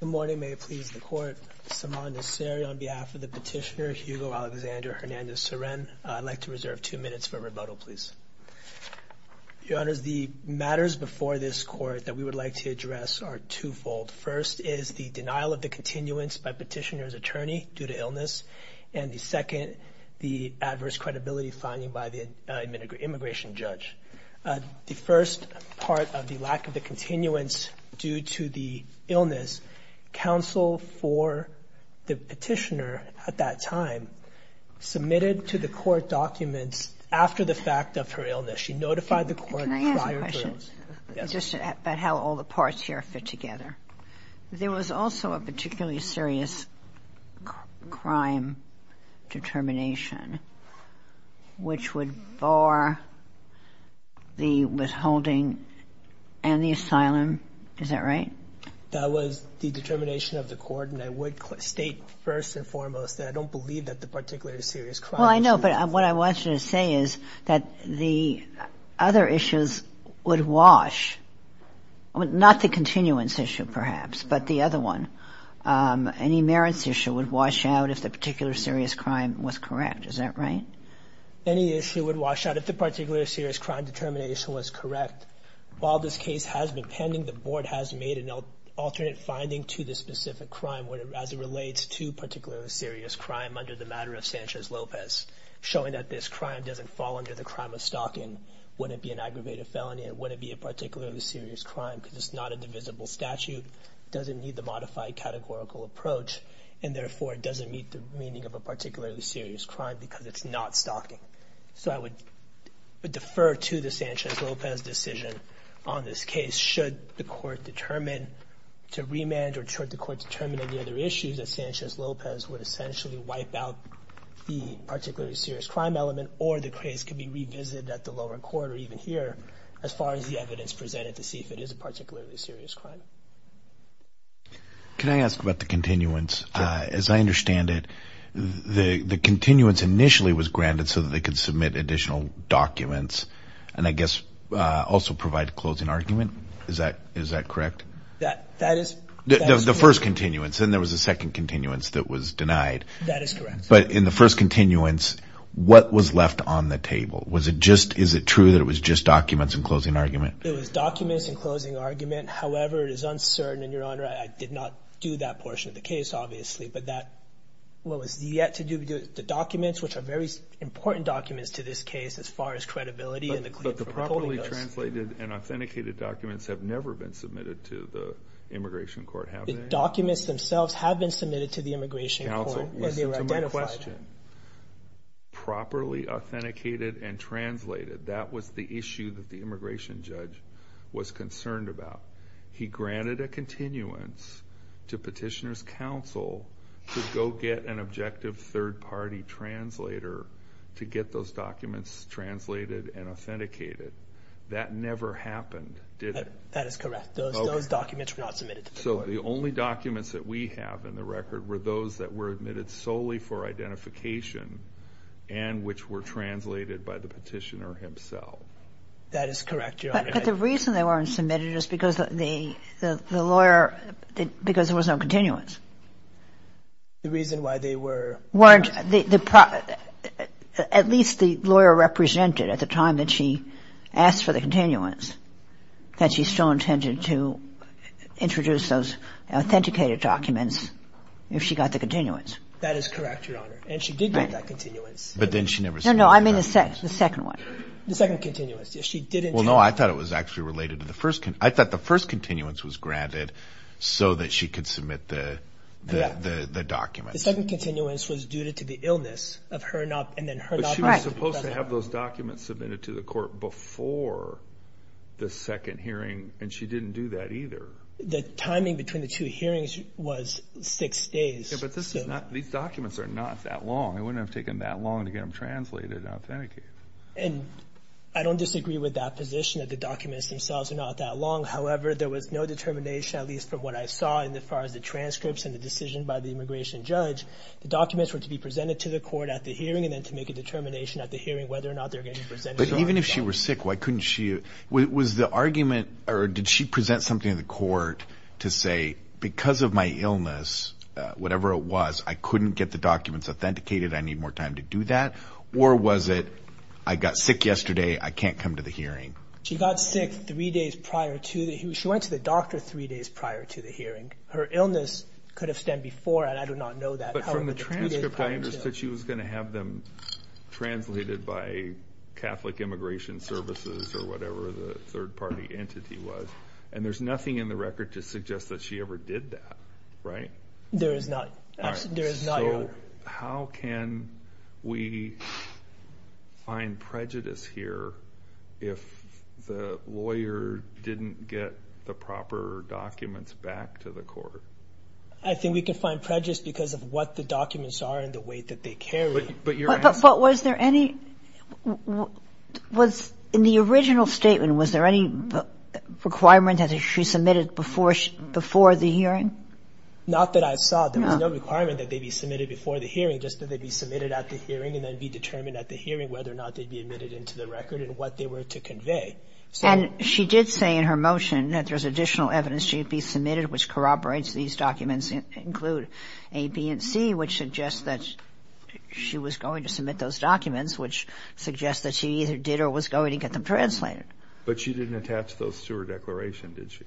Good morning, may it please the court. Saman Nasseri on behalf of the petitioner Hugo Alexander Hernandez Ceren. I'd like to reserve two minutes for rebuttal, please. Your honors, the matters before this court that we would like to address are twofold. First is the denial of the continuance by petitioner's attorney due to illness, and the second, the adverse credibility finding by the immigration judge. The first part of the lack of the continuance due to the illness, counsel for the petitioner at that time submitted to the court documents after the fact of her illness. She notified the court prior to it. Can I ask a question? Yes. Just about how all the parts here fit together. There was also a particularly serious crime determination, which would bar the withholding and the asylum. Is that right? That was the determination of the court, and I would state first and foremost that I don't believe that the particularly serious crime. Well, I know, but what I want you to say is that the other issues would wash, not the continuance issue perhaps, but the other one. Any merits issue would wash out if the particular serious crime was correct. Is that right? Any issue would wash out if the particular serious crime determination was correct. While this case has been pending, the board has made an alternate finding to the specific crime as it relates to particularly serious crime under the matter of Sanchez-Lopez, showing that this crime doesn't fall under the crime of stalking, wouldn't be an aggravated felony, and wouldn't be a particularly serious crime because it's not a divisible statute, doesn't need the modified categorical approach, and therefore, it doesn't meet the meaning of a particularly serious crime because it's not stalking. So I would defer to the Sanchez-Lopez decision on this case should the court determine to remand or should the court determine any other issues that Sanchez-Lopez would essentially wipe out the particularly serious crime element or the case could be revisited at the lower court or even here as far as the evidence presented to see if it is a particularly serious crime. Can I ask about the continuance? As I understand it, the continuance initially was granted so that they could submit additional documents and I guess also provide a closing argument. Is that correct? That is correct. The first continuance and there was a second continuance that was denied. That is correct. But in the first continuance, what was left on the table? Was it just, is it true that it was just documents and closing argument? It was documents and closing argument. However, it is uncertain and your honor, I did not do that portion of the case, obviously, but that what was yet to do with the documents, which are very important documents to this case as far as credibility. But the properly translated and authenticated documents have never been submitted to the immigration court, have they? The documents themselves have been submitted to the immigration court. Counsel, listen to my question. Properly was concerned about. He granted a continuance to petitioner's counsel to go get an objective third-party translator to get those documents translated and authenticated. That never happened, did it? That is correct. Those documents were not submitted. So the only documents that we have in the record were those that were admitted solely for identification and which were submitted because the lawyer, because there was no continuance. The reason why they weren't. At least the lawyer represented at the time that she asked for the continuance, that she still intended to introduce those authenticated documents if she got the continuance. That is correct, your honor. And she did get that continuance. But then she never said. No, I mean the second one. The second continuance. She didn't. Well, no, I thought it was actually related to the first. I thought the first continuance was granted so that she could submit the document. The second continuance was due to the illness of her and then her. But she was supposed to have those documents submitted to the court before the second hearing, and she didn't do that either. The timing between the two hearings was six days. But this is not. These documents are not that long. It wouldn't I don't disagree with that position that the documents themselves are not that long. However, there was no determination, at least from what I saw in the far as the transcripts and the decision by the immigration judge, the documents were to be presented to the court at the hearing and then to make a determination at the hearing whether or not they're getting presented. But even if she was sick, why couldn't she? Was the argument or did she present something in the court to say because of my illness, whatever it was, I couldn't get the documents authenticated. I need more time to do that. Or was it I got sick yesterday. I can't come to the hearing. She got sick three days prior to that. She went to the doctor three days prior to the hearing. Her illness could have stemmed before. And I do not know that. But from the transcript, I understood she was going to have them translated by Catholic Immigration Services or whatever the third party entity was. And there's nothing in the record to suggest that she ever did that. Right. There is not. There is not. How can we find prejudice here if the lawyer didn't get the proper documents back to the court? I think we can find prejudice because of what the documents are and the weight that they carry. But was there any, in the original statement, was there any requirement that she submitted before the hearing? Not that I saw. There was no requirement that they be submitted before the hearing, just that they be submitted at the hearing and then be determined at the hearing whether or not they'd be admitted into the record and what they were to convey. And she did say in her motion that there's additional evidence she'd be submitted, which corroborates these documents include A, B, and C, which suggests that she was going to submit those documents, which suggests that she either did or was going to get them translated. But she didn't attach those to her declaration, did she?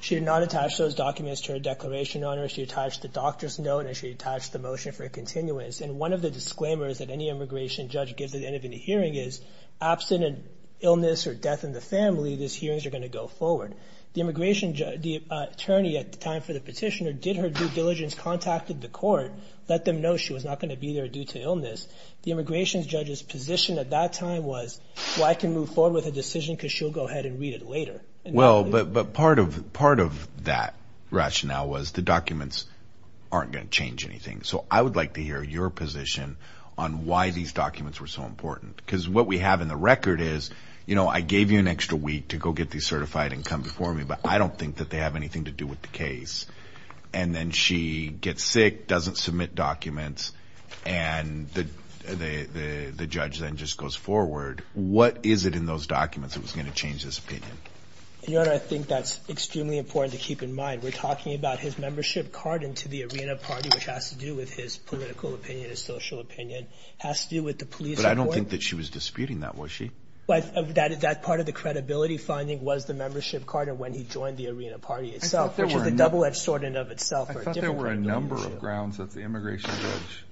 She did not attach those documents to her declaration, Your Honor. She attached the doctor's note and she attached the motion for a continuance. And one of the disclaimers that any immigration judge gives at the end of any hearing is, absent an illness or death in the family, these hearings are going to go forward. The immigration judge, the attorney at the time for the petitioner, did her due diligence, contacted the court, let them know she was not going to be there due to illness. The immigration judge's position at that time was, well, I can move forward with a decision because she'll go ahead and read it later. Well, but part of that rationale was the documents aren't going to change anything. So I would like to hear your position on why these documents were so important. Because what we have in the record is, you know, I gave you an extra week to go get these certified and come before me, but I don't think that they have anything to do with the case. And then she gets sick, doesn't submit documents, and the judge then just goes forward. What is it in those documents that was going to change this opinion? Your Honor, I think that's extremely important to keep in mind. We're talking about his membership card into the arena party, which has to do with his political opinion, his social opinion, has to do with the police report. But I don't think that she was disputing that, was she? That part of the credibility finding was the membership card and when he joined the arena party itself, which is the double-edged sword in and of itself. I thought there were a number of grounds that the immigration judge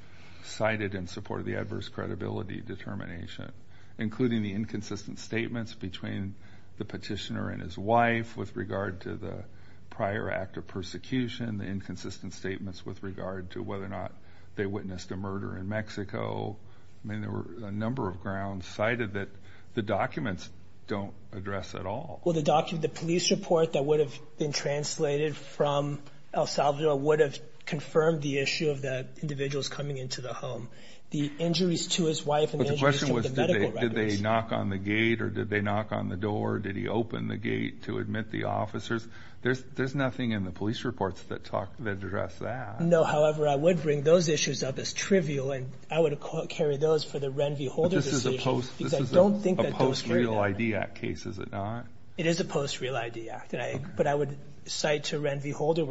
cited in support of the adverse credibility determination, including the inconsistent statements between the petitioner and his wife with regard to the prior act of persecution, the inconsistent statements with regard to whether or not they witnessed a murder in Mexico. I mean, there were a number of grounds cited that the documents don't address at all. Well, the police report that would have been translated from El Salvador would have confirmed the issue of the individuals coming into the home. The injuries to his wife and the injuries to the medical records. But the question was, did they knock on the gate or did they knock on the door? Did he open the gate to admit the officers? There's nothing in the police reports that address that. No, however, I would bring those issues up as trivial and I would carry those for the Renvie Holder decision. But this is a post-real ID act case, is it not? It is a post-real ID act, but I would cite to Renvie Holder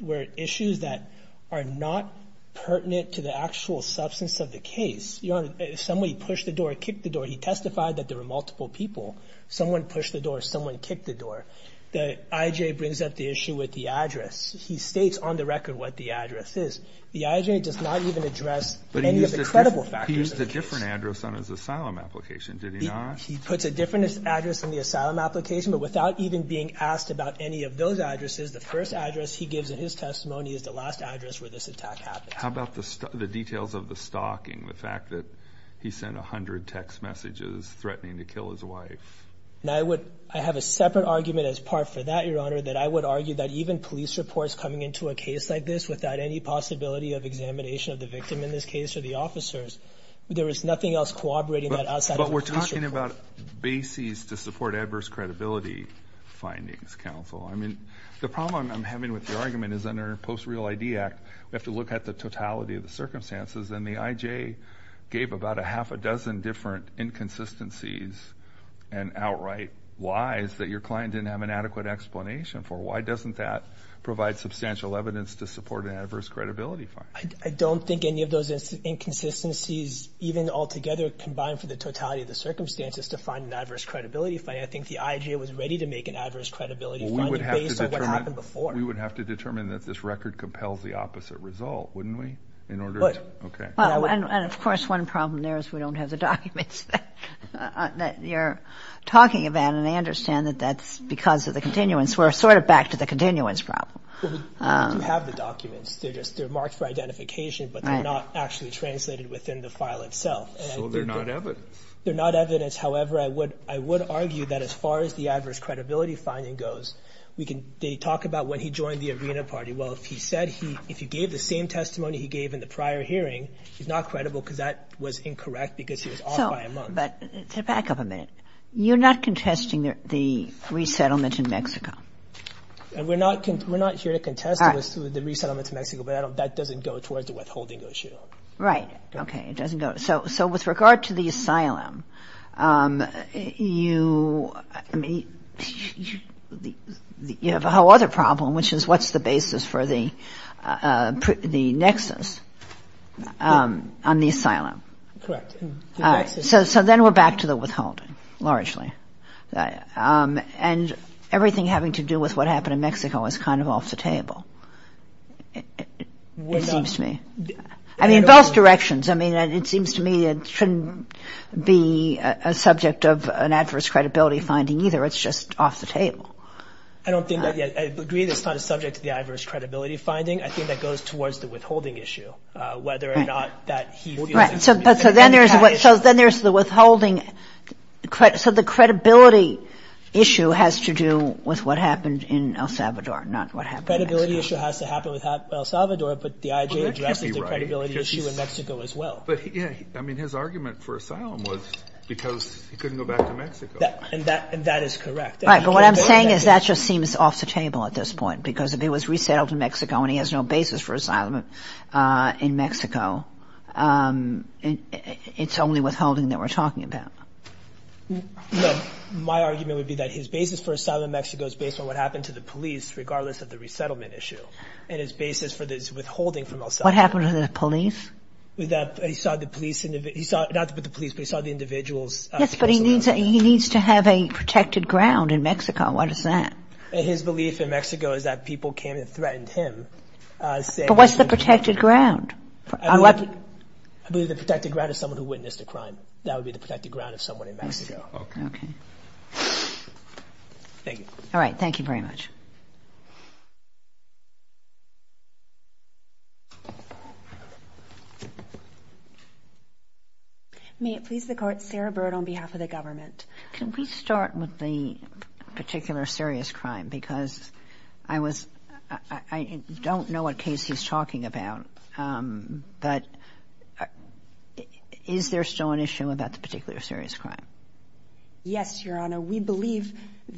where issues that are not pertinent to the actual substance of the case. You know, somebody pushed the door, kicked the door. He testified that there were multiple people. Someone pushed the door, someone kicked the door. The IJA brings up the issue with the address. He states on the record what the address is. The IJA does not even address any of the credible factors. He used a different address on his asylum application, did he not? He puts a different address in the asylum application, but without even being asked about any of those addresses, the first address he gives in his testimony is the last address where this attack happened. How about the details of the stalking, the fact that he sent 100 text messages threatening to kill his wife? I have a separate argument as part for that, Your Honor, that I would argue that even police reports coming into a case like this without any possibility of examination of the victim in this case or the officers, there is nothing else corroborating that outside of a police report. But we're talking about bases to support adverse credibility findings, counsel. I mean, the problem I'm having with your argument is under the Post-Real ID Act, we have to look at the totality of the circumstances. And the IJA gave about a half a dozen different inconsistencies and outright whys that your client didn't have an adequate explanation for. Why doesn't that provide substantial evidence to support an adverse credibility finding? I don't think any of those inconsistencies, even altogether, combined for the totality of the circumstances to find an adverse credibility finding, I think the IJA was ready to make an adverse credibility finding based on what happened before. We would have to determine that this record compels the opposite result, wouldn't we? Would. And of course, one problem there is we don't have the documents that you're talking about. And I understand that that's because of the continuance. We're sort of back to the continuance problem. We do have the documents. They're marked for identification, but they're not actually translated within the file itself. So they're not evidence. They're not evidence. However, I would argue that as far as the adverse credibility finding goes, we can – they talk about when he joined the Arena Party. Well, if he said he – if he gave the same testimony he gave in the prior hearing, he's not credible because that was incorrect because he was off by a month. So – but to back up a minute, you're not contesting the resettlement in Mexico? And we're not here to contest the resettlement in Mexico, but that doesn't go towards the withholding issue. Right. Okay. It doesn't go – so with regard to the asylum, you – I mean, you have a whole other problem, which is what's the basis for the nexus on the asylum. Correct. All right. So then we're back to the withholding, largely. And everything having to do with what happened in Mexico is kind of off the table, it seems to me. I mean, both directions. I mean, it seems to me it shouldn't be a subject of an adverse credibility finding either. It's just off the table. I don't think that – I agree it's not a subject of the adverse credibility finding. I think that goes towards the withholding issue, whether or not that he feels it's a – Right. So then there's the withholding – so the credibility issue has to do with what happened in El Salvador, not what happened in Mexico. The withholding issue has to happen with El Salvador, but the IJ addresses the credibility issue in Mexico as well. But he – I mean, his argument for asylum was because he couldn't go back to Mexico. And that is correct. Right. But what I'm saying is that just seems off the table at this point, because if he was resettled in Mexico and he has no basis for asylum in Mexico, it's only withholding that we're talking about. No. My argument would be that his basis for asylum in Mexico is based on what happened to the police, regardless of the resettlement issue, and his basis for this withholding from El Salvador. What happened to the police? He saw the police – not the police, but he saw the individuals – Yes, but he needs to have a protected ground in Mexico. What is that? His belief in Mexico is that people came and threatened him, saying – But what's the protected ground? I believe the protected ground is someone who witnessed a crime. That would be the protected ground of someone in Mexico. Okay. Thank you. All right. Thank you very much. May it please the Court, Sarah Bird on behalf of the government. Can we start with the particular serious crime? Because I was – I don't know what case he's talking about, but is there still an issue about the particular serious crime? Yes, Your Honor. We believe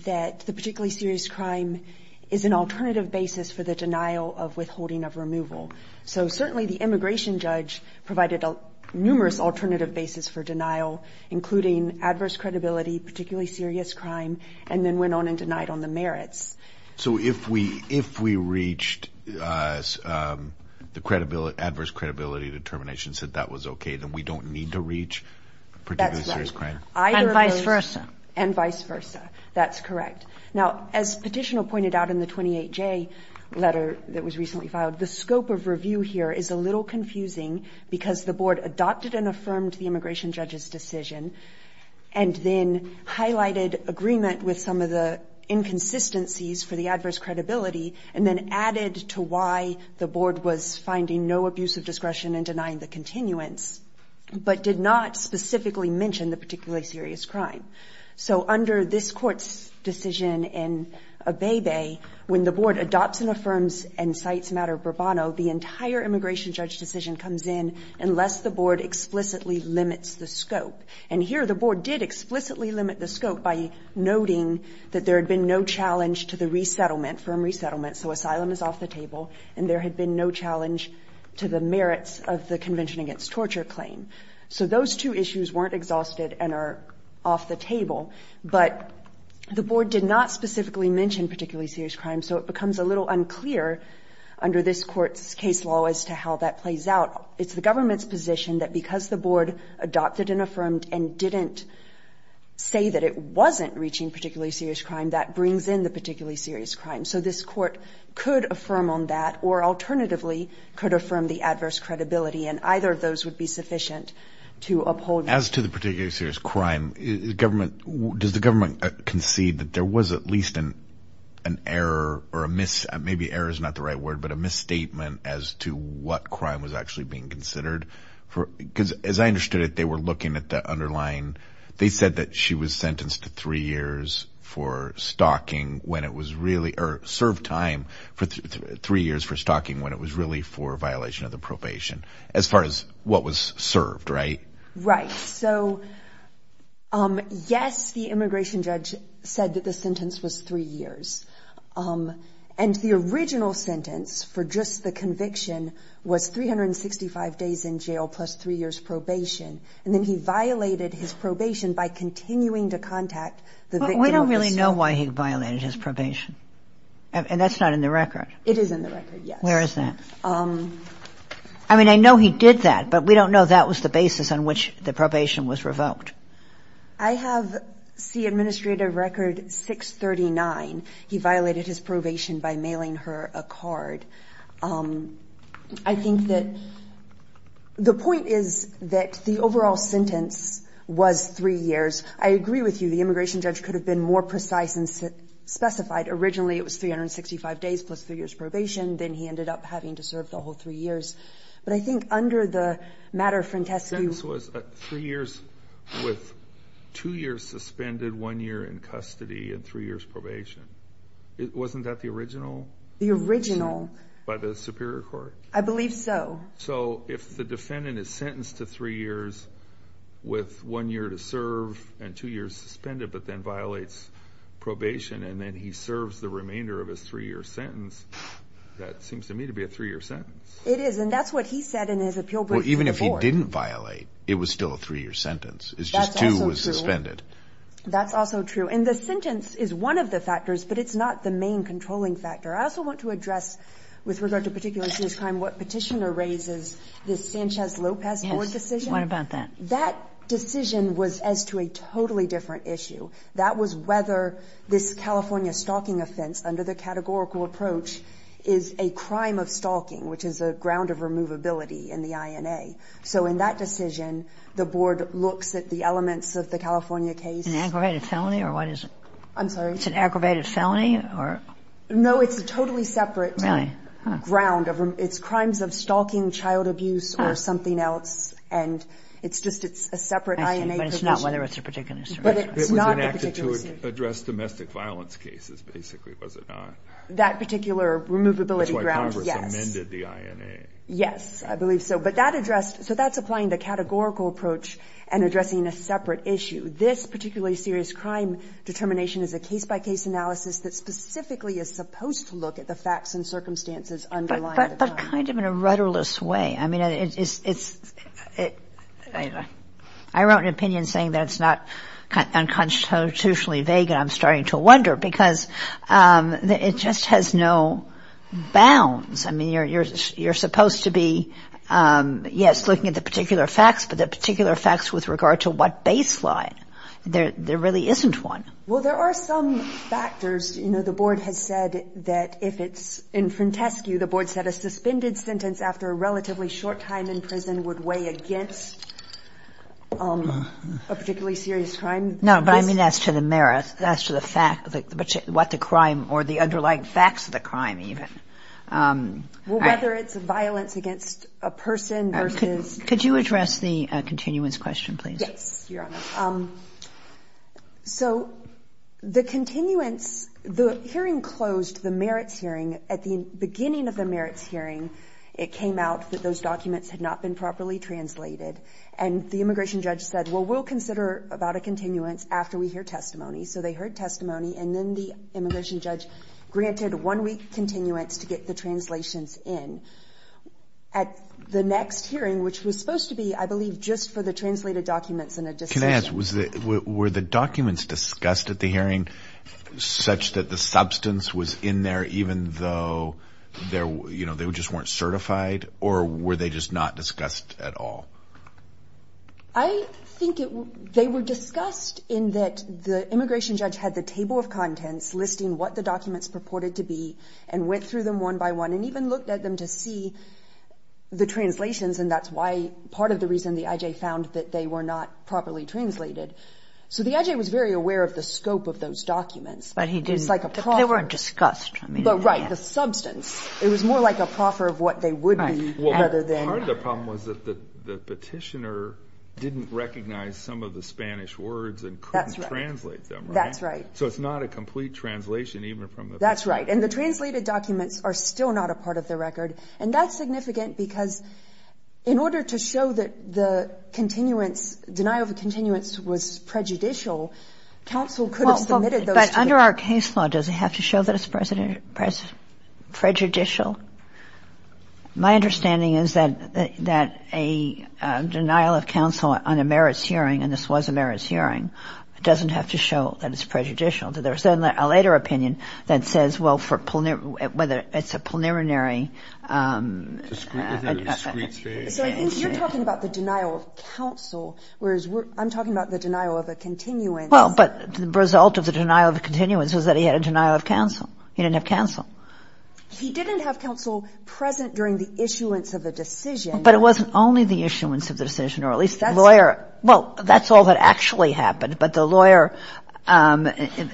that the particular serious crime is an alternative basis for the denial of withholding of removal. So certainly the immigration judge provided a numerous alternative basis for denial, including adverse credibility, particularly serious crime, and then went on and denied on the merits. So if we reached – the adverse credibility determination said that was okay, then we That's right. And vice versa. And vice versa. That's correct. Now, as Petitioner pointed out in the 28J letter that was recently filed, the scope of review here is a little confusing because the Board adopted and affirmed the immigration judge's decision and then highlighted agreement with some of the inconsistencies for the adverse credibility and then added to why the Board was finding no abuse of discretion in denying the continuance, but did not specifically mention the particularly serious crime. So under this Court's decision in Abebe, when the Board adopts and affirms and cites matter bravado, the entire immigration judge decision comes in unless the Board explicitly limits the scope. And here the Board did explicitly limit the scope by noting that there had been no challenge to the resettlement, firm resettlement, so asylum is off the table, and there had been no challenge to the merits of the Convention against Torture claim. So those two issues weren't exhausted and are off the table, but the Board did not specifically mention particularly serious crime, so it becomes a little unclear under this Court's case law as to how that plays out. It's the government's position that because the Board adopted and affirmed and didn't say that it wasn't reaching particularly serious crime, that brings in the particularly serious crime. So this Court could affirm on that or alternatively could affirm the adverse credibility and either of those would be sufficient to uphold. As to the particularly serious crime, does the government concede that there was at least an error or a miss, maybe error is not the right word, but a misstatement as to what crime was actually being considered? Because as I understood it, they were looking at the underlying, they said that she was sentenced to three years for stalking when it was really, or served time for three years for stalking when it was really for violation of the probation as far as what was served, right? Right. So yes, the immigration judge said that the sentence was three years. And the original sentence for just the conviction was 365 days in jail plus three years probation. And then he violated his probation by continuing to contact the victim. We don't really know why he violated his probation. And that's not in the record. It is in the record, yes. Where is that? I mean, I know he did that, but we don't know that was the basis on which the probation was revoked. I have, see administrative record 639. He violated his probation by mailing her a card. I think that the point is that the overall sentence was three years. I agree with you. The immigration judge could have been more precise and specified originally it was 365 days plus three years probation. Then he ended up having to serve the whole three years. But I think under the matter of Frentescu- Sentence was three years with two years suspended, one year in custody and three years probation. Wasn't that the original? The original. By the Superior Court? I believe so. So if the defendant is sentenced to three years with one year to serve and two years suspended, but then violates probation and then he serves the remainder of his three-year sentence, that seems to me to be a three-year sentence. It is. And that's what he said in his appeal. Even if he didn't violate, it was still a three-year sentence. It's just two was suspended. That's also true. And the sentence is one of the factors, but it's not the main controlling factor. I also want to address with regard to particular serious crime, what petitioner raises, this Sanchez-Lopez board decision. What about that? That decision was as to a totally different issue. That was whether this California stalking offense under the categorical approach is a crime of stalking, which is a ground of removability in the INA. So in that decision, the board looks at the elements of the California case- An aggravated felony? Or what is it? I'm sorry? It's an aggravated felony? Or- No, it's a totally separate- Really? Ground. It's crimes of stalking, child abuse, or something else. And it's just, it's a separate INA- But it's not whether it's a particular- But it was enacted to address domestic violence cases, basically, was it not? That particular removability- That's why Congress amended the INA. Yes, I believe so. But that addressed, so that's applying the categorical approach and addressing a separate issue. This particularly serious crime determination is a case-by-case analysis that specifically is supposed to look at the facts and circumstances underlying- But kind of in a rudderless way. I mean, it's, I wrote an opinion saying that it's not unconstitutionally vague, and I'm starting to wonder, because it just has no bounds. I mean, you're supposed to be, yes, looking at the particular facts, but the particular facts with regard to what baseline. There really isn't one. Well, there are some factors. You know, the Board has said that if it's in Frantescu, the Board said a suspended sentence after a relatively short time in prison would weigh against a particularly serious crime. No, but I mean as to the merits, as to the fact, what the crime or the underlying facts of the crime even. Well, whether it's violence against a person versus- Could you address the continuance question, please? Yes, Your Honor. So the continuance, the hearing closed, the merits hearing. At the beginning of the merits hearing, it came out that those documents had not been properly translated, and the immigration judge said, well, we'll consider about a continuance after we hear testimony. So they heard testimony, and then the immigration judge granted one-week continuance to get the translations in. At the next hearing, which was supposed to be, I believe, just for the translated documents and a decision- Can I ask, were the documents discussed at the hearing such that the substance was in there even though they just weren't certified, or were they just not discussed at all? I think they were discussed in that the immigration judge had the table of contents listing what the documents purported to be and went through them one by one and even looked at them to see the translations, and that's why part of the reason the I.J. found that they were not properly translated. So the I.J. was very aware of the scope of those documents. But he didn't- It's like a proffer. They weren't discussed. But right, the substance, it was more like a proffer of what they would be rather than- Part of the problem was that the petitioner didn't recognize some of the Spanish words and couldn't translate them, right? That's right. So it's not a complete translation even from the- That's right, and the translated documents are still not a part of the record, and that's significant because in order to show that the continuance, denial of continuance was prejudicial, counsel could have submitted those- But under our case law, does it have to show that it's prejudicial? My understanding is that a denial of counsel on a merits hearing, and this was a merits hearing, doesn't have to show that it's prejudicial. There's a later opinion that says, well, whether it's a plenary- So I think you're talking about the denial of counsel, whereas I'm talking about the denial of a continuance. Well, but the result of the denial of continuance was that he had a denial of counsel. He didn't have counsel. He didn't have counsel present during the issuance of the decision. But it wasn't only the issuance of the decision, or at least the lawyer- But the lawyer,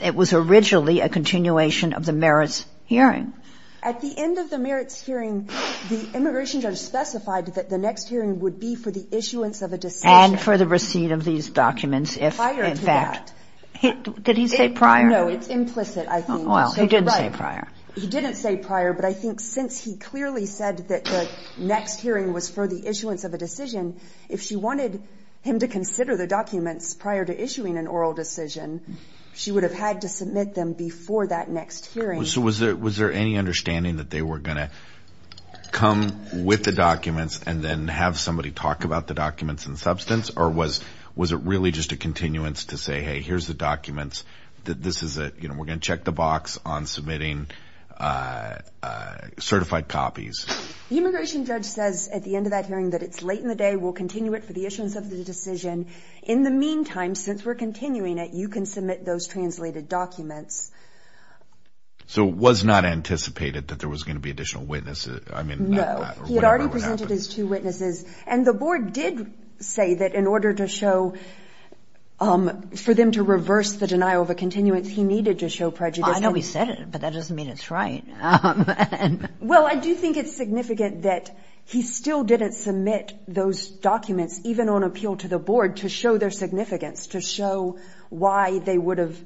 it was originally a continuation of the merits hearing. At the end of the merits hearing, the immigration judge specified that the next hearing would be for the issuance of a decision. And for the receipt of these documents, if in fact- Prior to that. Did he say prior? No, it's implicit, I think. Well, he didn't say prior. He didn't say prior, but I think since he clearly said that the next hearing was for the issuance of a decision, if she wanted him to consider the documents prior to issuing an oral decision, she would have had to submit them before that next hearing. So was there any understanding that they were going to come with the documents and then have somebody talk about the documents in substance? Or was it really just a continuance to say, hey, here's the documents. We're going to check the box on submitting certified copies. The immigration judge says at the end of that hearing that it's late in the day, we'll continue it for the issuance of the decision. In the meantime, since we're continuing it, you can submit those translated documents. So it was not anticipated that there was going to be additional witnesses? I mean- No, he had already presented his two witnesses. And the board did say that in order to show- for them to reverse the denial of a continuance, he needed to show prejudice. I know he said it, but that doesn't mean it's right. And- Well, I do think it's significant that he still didn't submit those documents, even on appeal to the board, to show their significance, to show why they would have-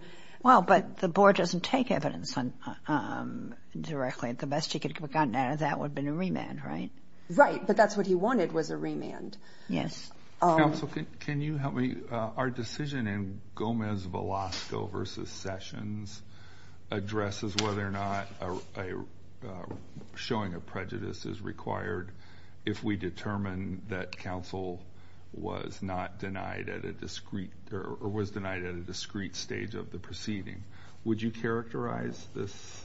Well, but the board doesn't take evidence directly. The best he could have gotten out of that would have been a remand, right? Right. But that's what he wanted, was a remand. Yes. Counsel, can you help me? Our decision in Gomez-Velasco v. Sessions addresses whether or not a showing of prejudice is required if we determine that counsel was not denied at a discreet- or was denied at a discreet stage of the proceeding. Would you characterize this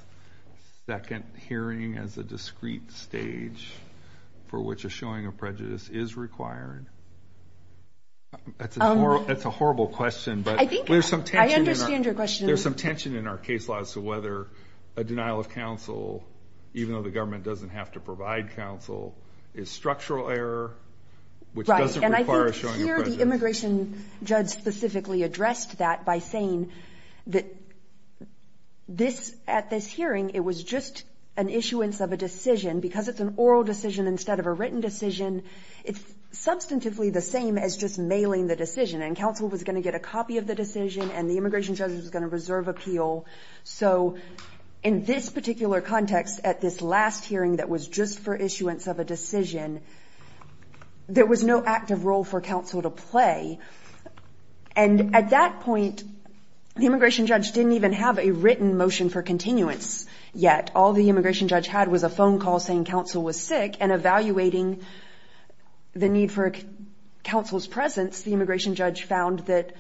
second hearing as a discreet stage for which a showing of prejudice is required? That's a horrible question, but- I think- There's some tension in our- I understand your question. There's some tension in our case law as to whether a denial of counsel, even though the government doesn't have to provide counsel, is structural error, which doesn't require a showing of prejudice. Right. And I think here, the immigration judge specifically addressed that by saying that this- at this hearing, it was just an issuance of a decision, because it's an oral decision instead of a written decision. It's substantively the same as just mailing the decision, and counsel was going to get a copy of the decision, and the immigration judge was going to reserve appeal. So, in this particular context, at this last hearing that was just for issuance of a decision, there was no active role for counsel to play. And at that point, the immigration judge didn't even have a written motion for continuance yet. All the immigration judge had was a phone call saying counsel was sick, and evaluating the need for counsel's presence, the immigration judge found that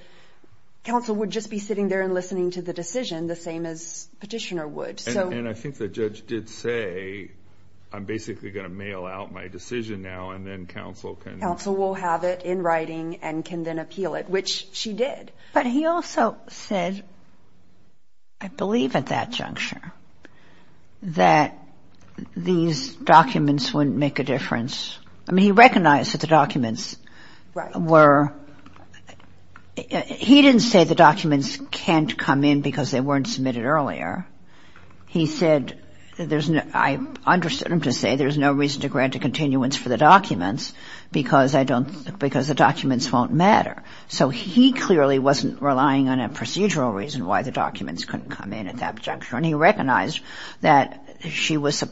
counsel would just be sitting there and listening to the decision, the same as petitioner would. So- And I think the judge did say, I'm basically going to mail out my decision now and then counsel can- Counsel will have it in writing and can then appeal it, which she did. But he also said, I believe at that juncture, that these documents wouldn't make a difference. I mean, he recognized that the documents were- He didn't say the documents can't come in because they weren't submitted earlier. He said, I understood him to say, there's no reason to grant a continuance for the documents because the documents won't matter. So, he clearly wasn't relying on a procedural reason why the documents couldn't come in at that juncture. And he recognized that she was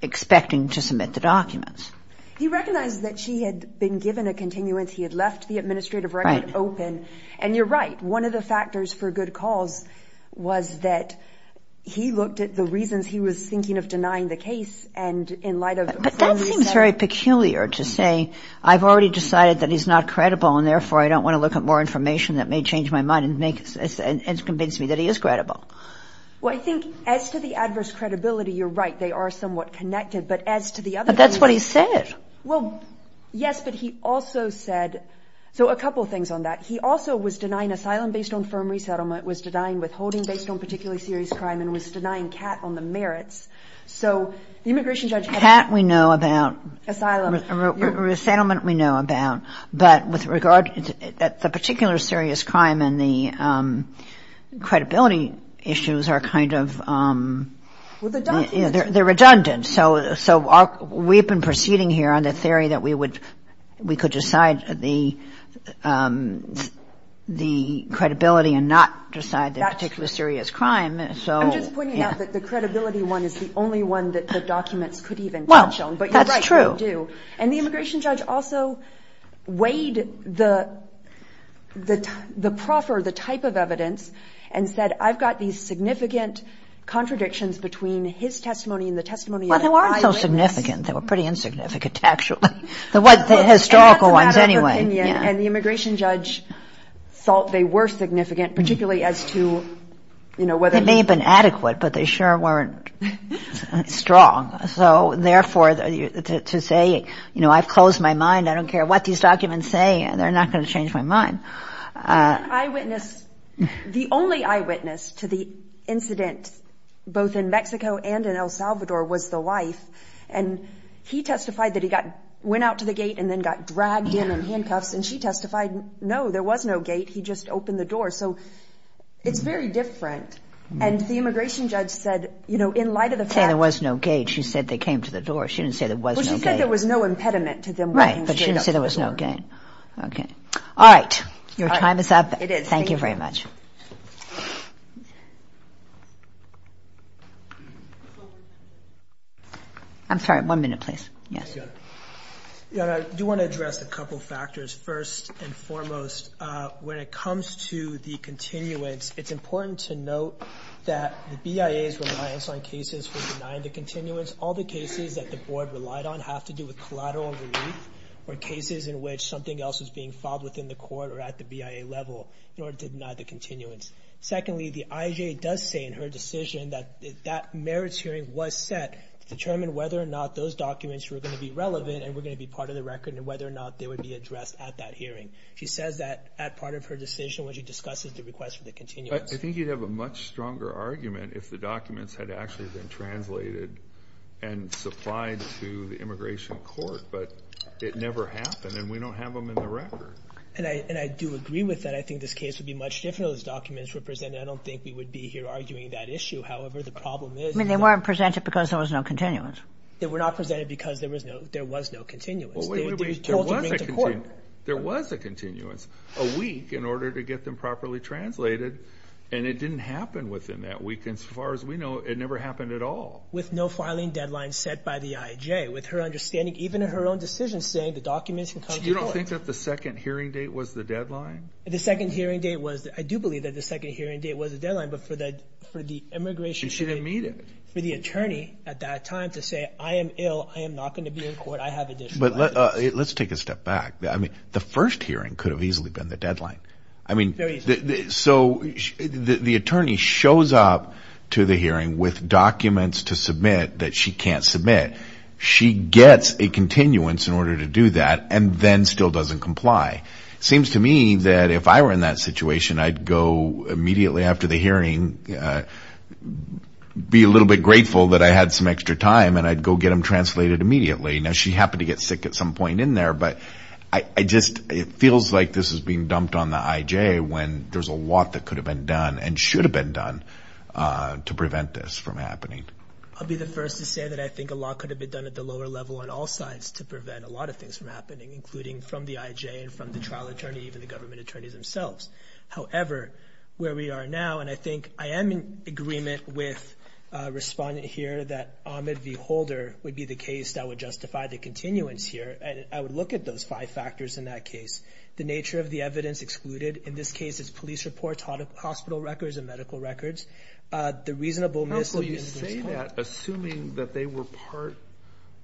expecting to submit the documents. He recognized that she had been given a continuance. He had left the administrative record open. And you're right, one of the factors for good cause was that he looked at the reasons he was thinking of denying the case. And in light of- But that seems very peculiar to say, I've already decided that he's not credible and therefore I don't want to look at more information that may change my mind and convince me that he is credible. Well, I think as to the adverse credibility, you're right. They are somewhat connected. But as to the other- But that's what he said. Well, yes, but he also said- So, a couple of things on that. He also was denying asylum based on firm resettlement, was denying withholding based on particularly serious crime, and was denying CAT on the merits. So, the immigration judge- CAT we know about. Asylum. Resettlement we know about. But with regard that the particular serious crime and the credibility issues are kind of- Well, the documents- They're redundant. So, we've been proceeding here on the theory that we could decide the credibility and not decide the particular serious crime. So- I'm just pointing out that the credibility one is the only one that the documents could even touch on. But you're right, they do. And the immigration judge also weighed the proffer, the type of evidence, and said, I've got these significant contradictions between his testimony and the testimony- Well, they weren't so significant. They were pretty insignificant, actually. The historical ones, anyway. And the immigration judge thought they were significant, particularly as to whether- They may have been adequate, but they sure weren't strong. So, therefore, to say, I've closed my mind, I don't care what these documents say, they're not going to change my mind. The only eyewitness to the incident, both in Mexico and in El Salvador, was the wife. And he testified that he went out to the gate and then got dragged in in handcuffs. And she testified, no, there was no gate. He just opened the door. So, it's very different. And the immigration judge said, in light of the fact- She didn't say they came to the door. She didn't say there was no gate. She said there was no impediment to them- Right, but she didn't say there was no gate. All right. Your time is up. Thank you very much. I'm sorry, one minute, please. Yes. I do want to address a couple of factors. First and foremost, when it comes to the continuance, it's important to note that the BIA's reliance on cases for denying the continuance, all the cases that the board relied on have to do with collateral relief or cases in which something else is being filed within the court or at the BIA level in order to deny the continuance. Secondly, the IJ does say in her decision that that merits hearing was set to determine whether or not those documents were going to be relevant and were going to be part of the record and whether or not they would be addressed at that hearing. She says that at part of her decision when she discusses the request for the continuance. I think you'd have a much stronger argument if the documents had actually been translated and supplied to the immigration court, but it never happened and we don't have them in the record. And I do agree with that. I think this case would be much different if those documents were presented. I don't think we would be here arguing that issue. However, the problem is- I mean, they weren't presented because there was no continuance. They were not presented because there was no continuance. Well, wait a minute, there was a continuance. There was a continuance, a week in order to get them properly translated and it didn't happen within that week and as far as we know, it never happened at all. With no filing deadline set by the IJ. With her understanding, even in her own decision, saying the documents can come to court. You don't think that the second hearing date was the deadline? The second hearing date was- I do believe that the second hearing date was the deadline, but for the immigration- And she didn't meet it. For the attorney at that time to say, I am ill, I am not going to be in court, I have additional- But let's take a step back. I mean, the first hearing could have easily been the deadline. I mean, so the attorney shows up to the hearing with documents to submit that she can't submit. She gets a continuance in order to do that and then still doesn't comply. Seems to me that if I were in that situation, I'd go immediately after the hearing, be a little bit grateful that I had some extra time and I'd go get them translated immediately. Now, she happened to get sick at some point in there, but I just- It feels like this is being dumped on the IJ when there's a lot that could have been done and should have been done to prevent this from happening. I'll be the first to say that I think a lot could have been done at the lower level on all sides to prevent a lot of things from happening, including from the IJ and from the trial attorney, even the government attorneys themselves. However, where we are now, and I think I am in agreement with a respondent here that Ahmed V. Holder would be the case that would justify the continuance here, and I would look at those five factors in that case. The nature of the evidence excluded, in this case it's police reports, hospital records, and medical records. The reasonable- How could you say that assuming that they were part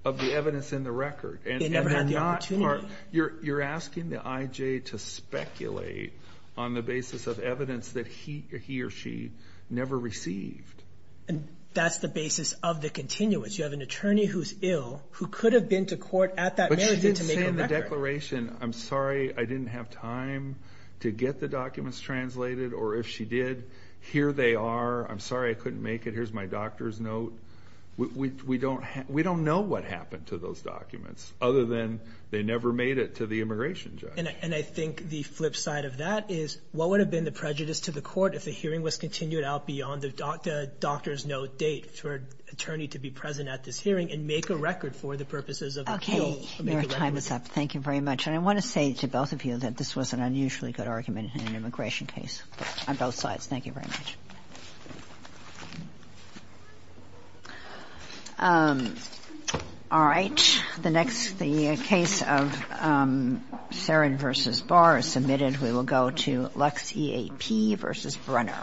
of the evidence in the record? They never had the opportunity. You're asking the IJ to speculate on the basis of evidence that he or she never received. That's the basis of the continuance. You have an attorney who's ill who could have been to court at that marriage- But she didn't say in the declaration, I'm sorry, I didn't have time to get the documents translated, or if she did, here they are. I'm sorry I couldn't make it. Here's my doctor's note. We don't know what happened to those documents other than they never made it to the immigration judge. And I think the flip side of that is what would have been the prejudice to the court if the hearing was continued out beyond the doctor's note date for an attorney to be present at this hearing and make a record for the purposes of the case? Okay, your time is up. Thank you very much. And I want to say to both of you that this was an unusually good argument in an immigration case on both sides. Thank you very much. All right. The next case of Serrin v. Barr is submitted. We will go to Lux EAP v. Brunner.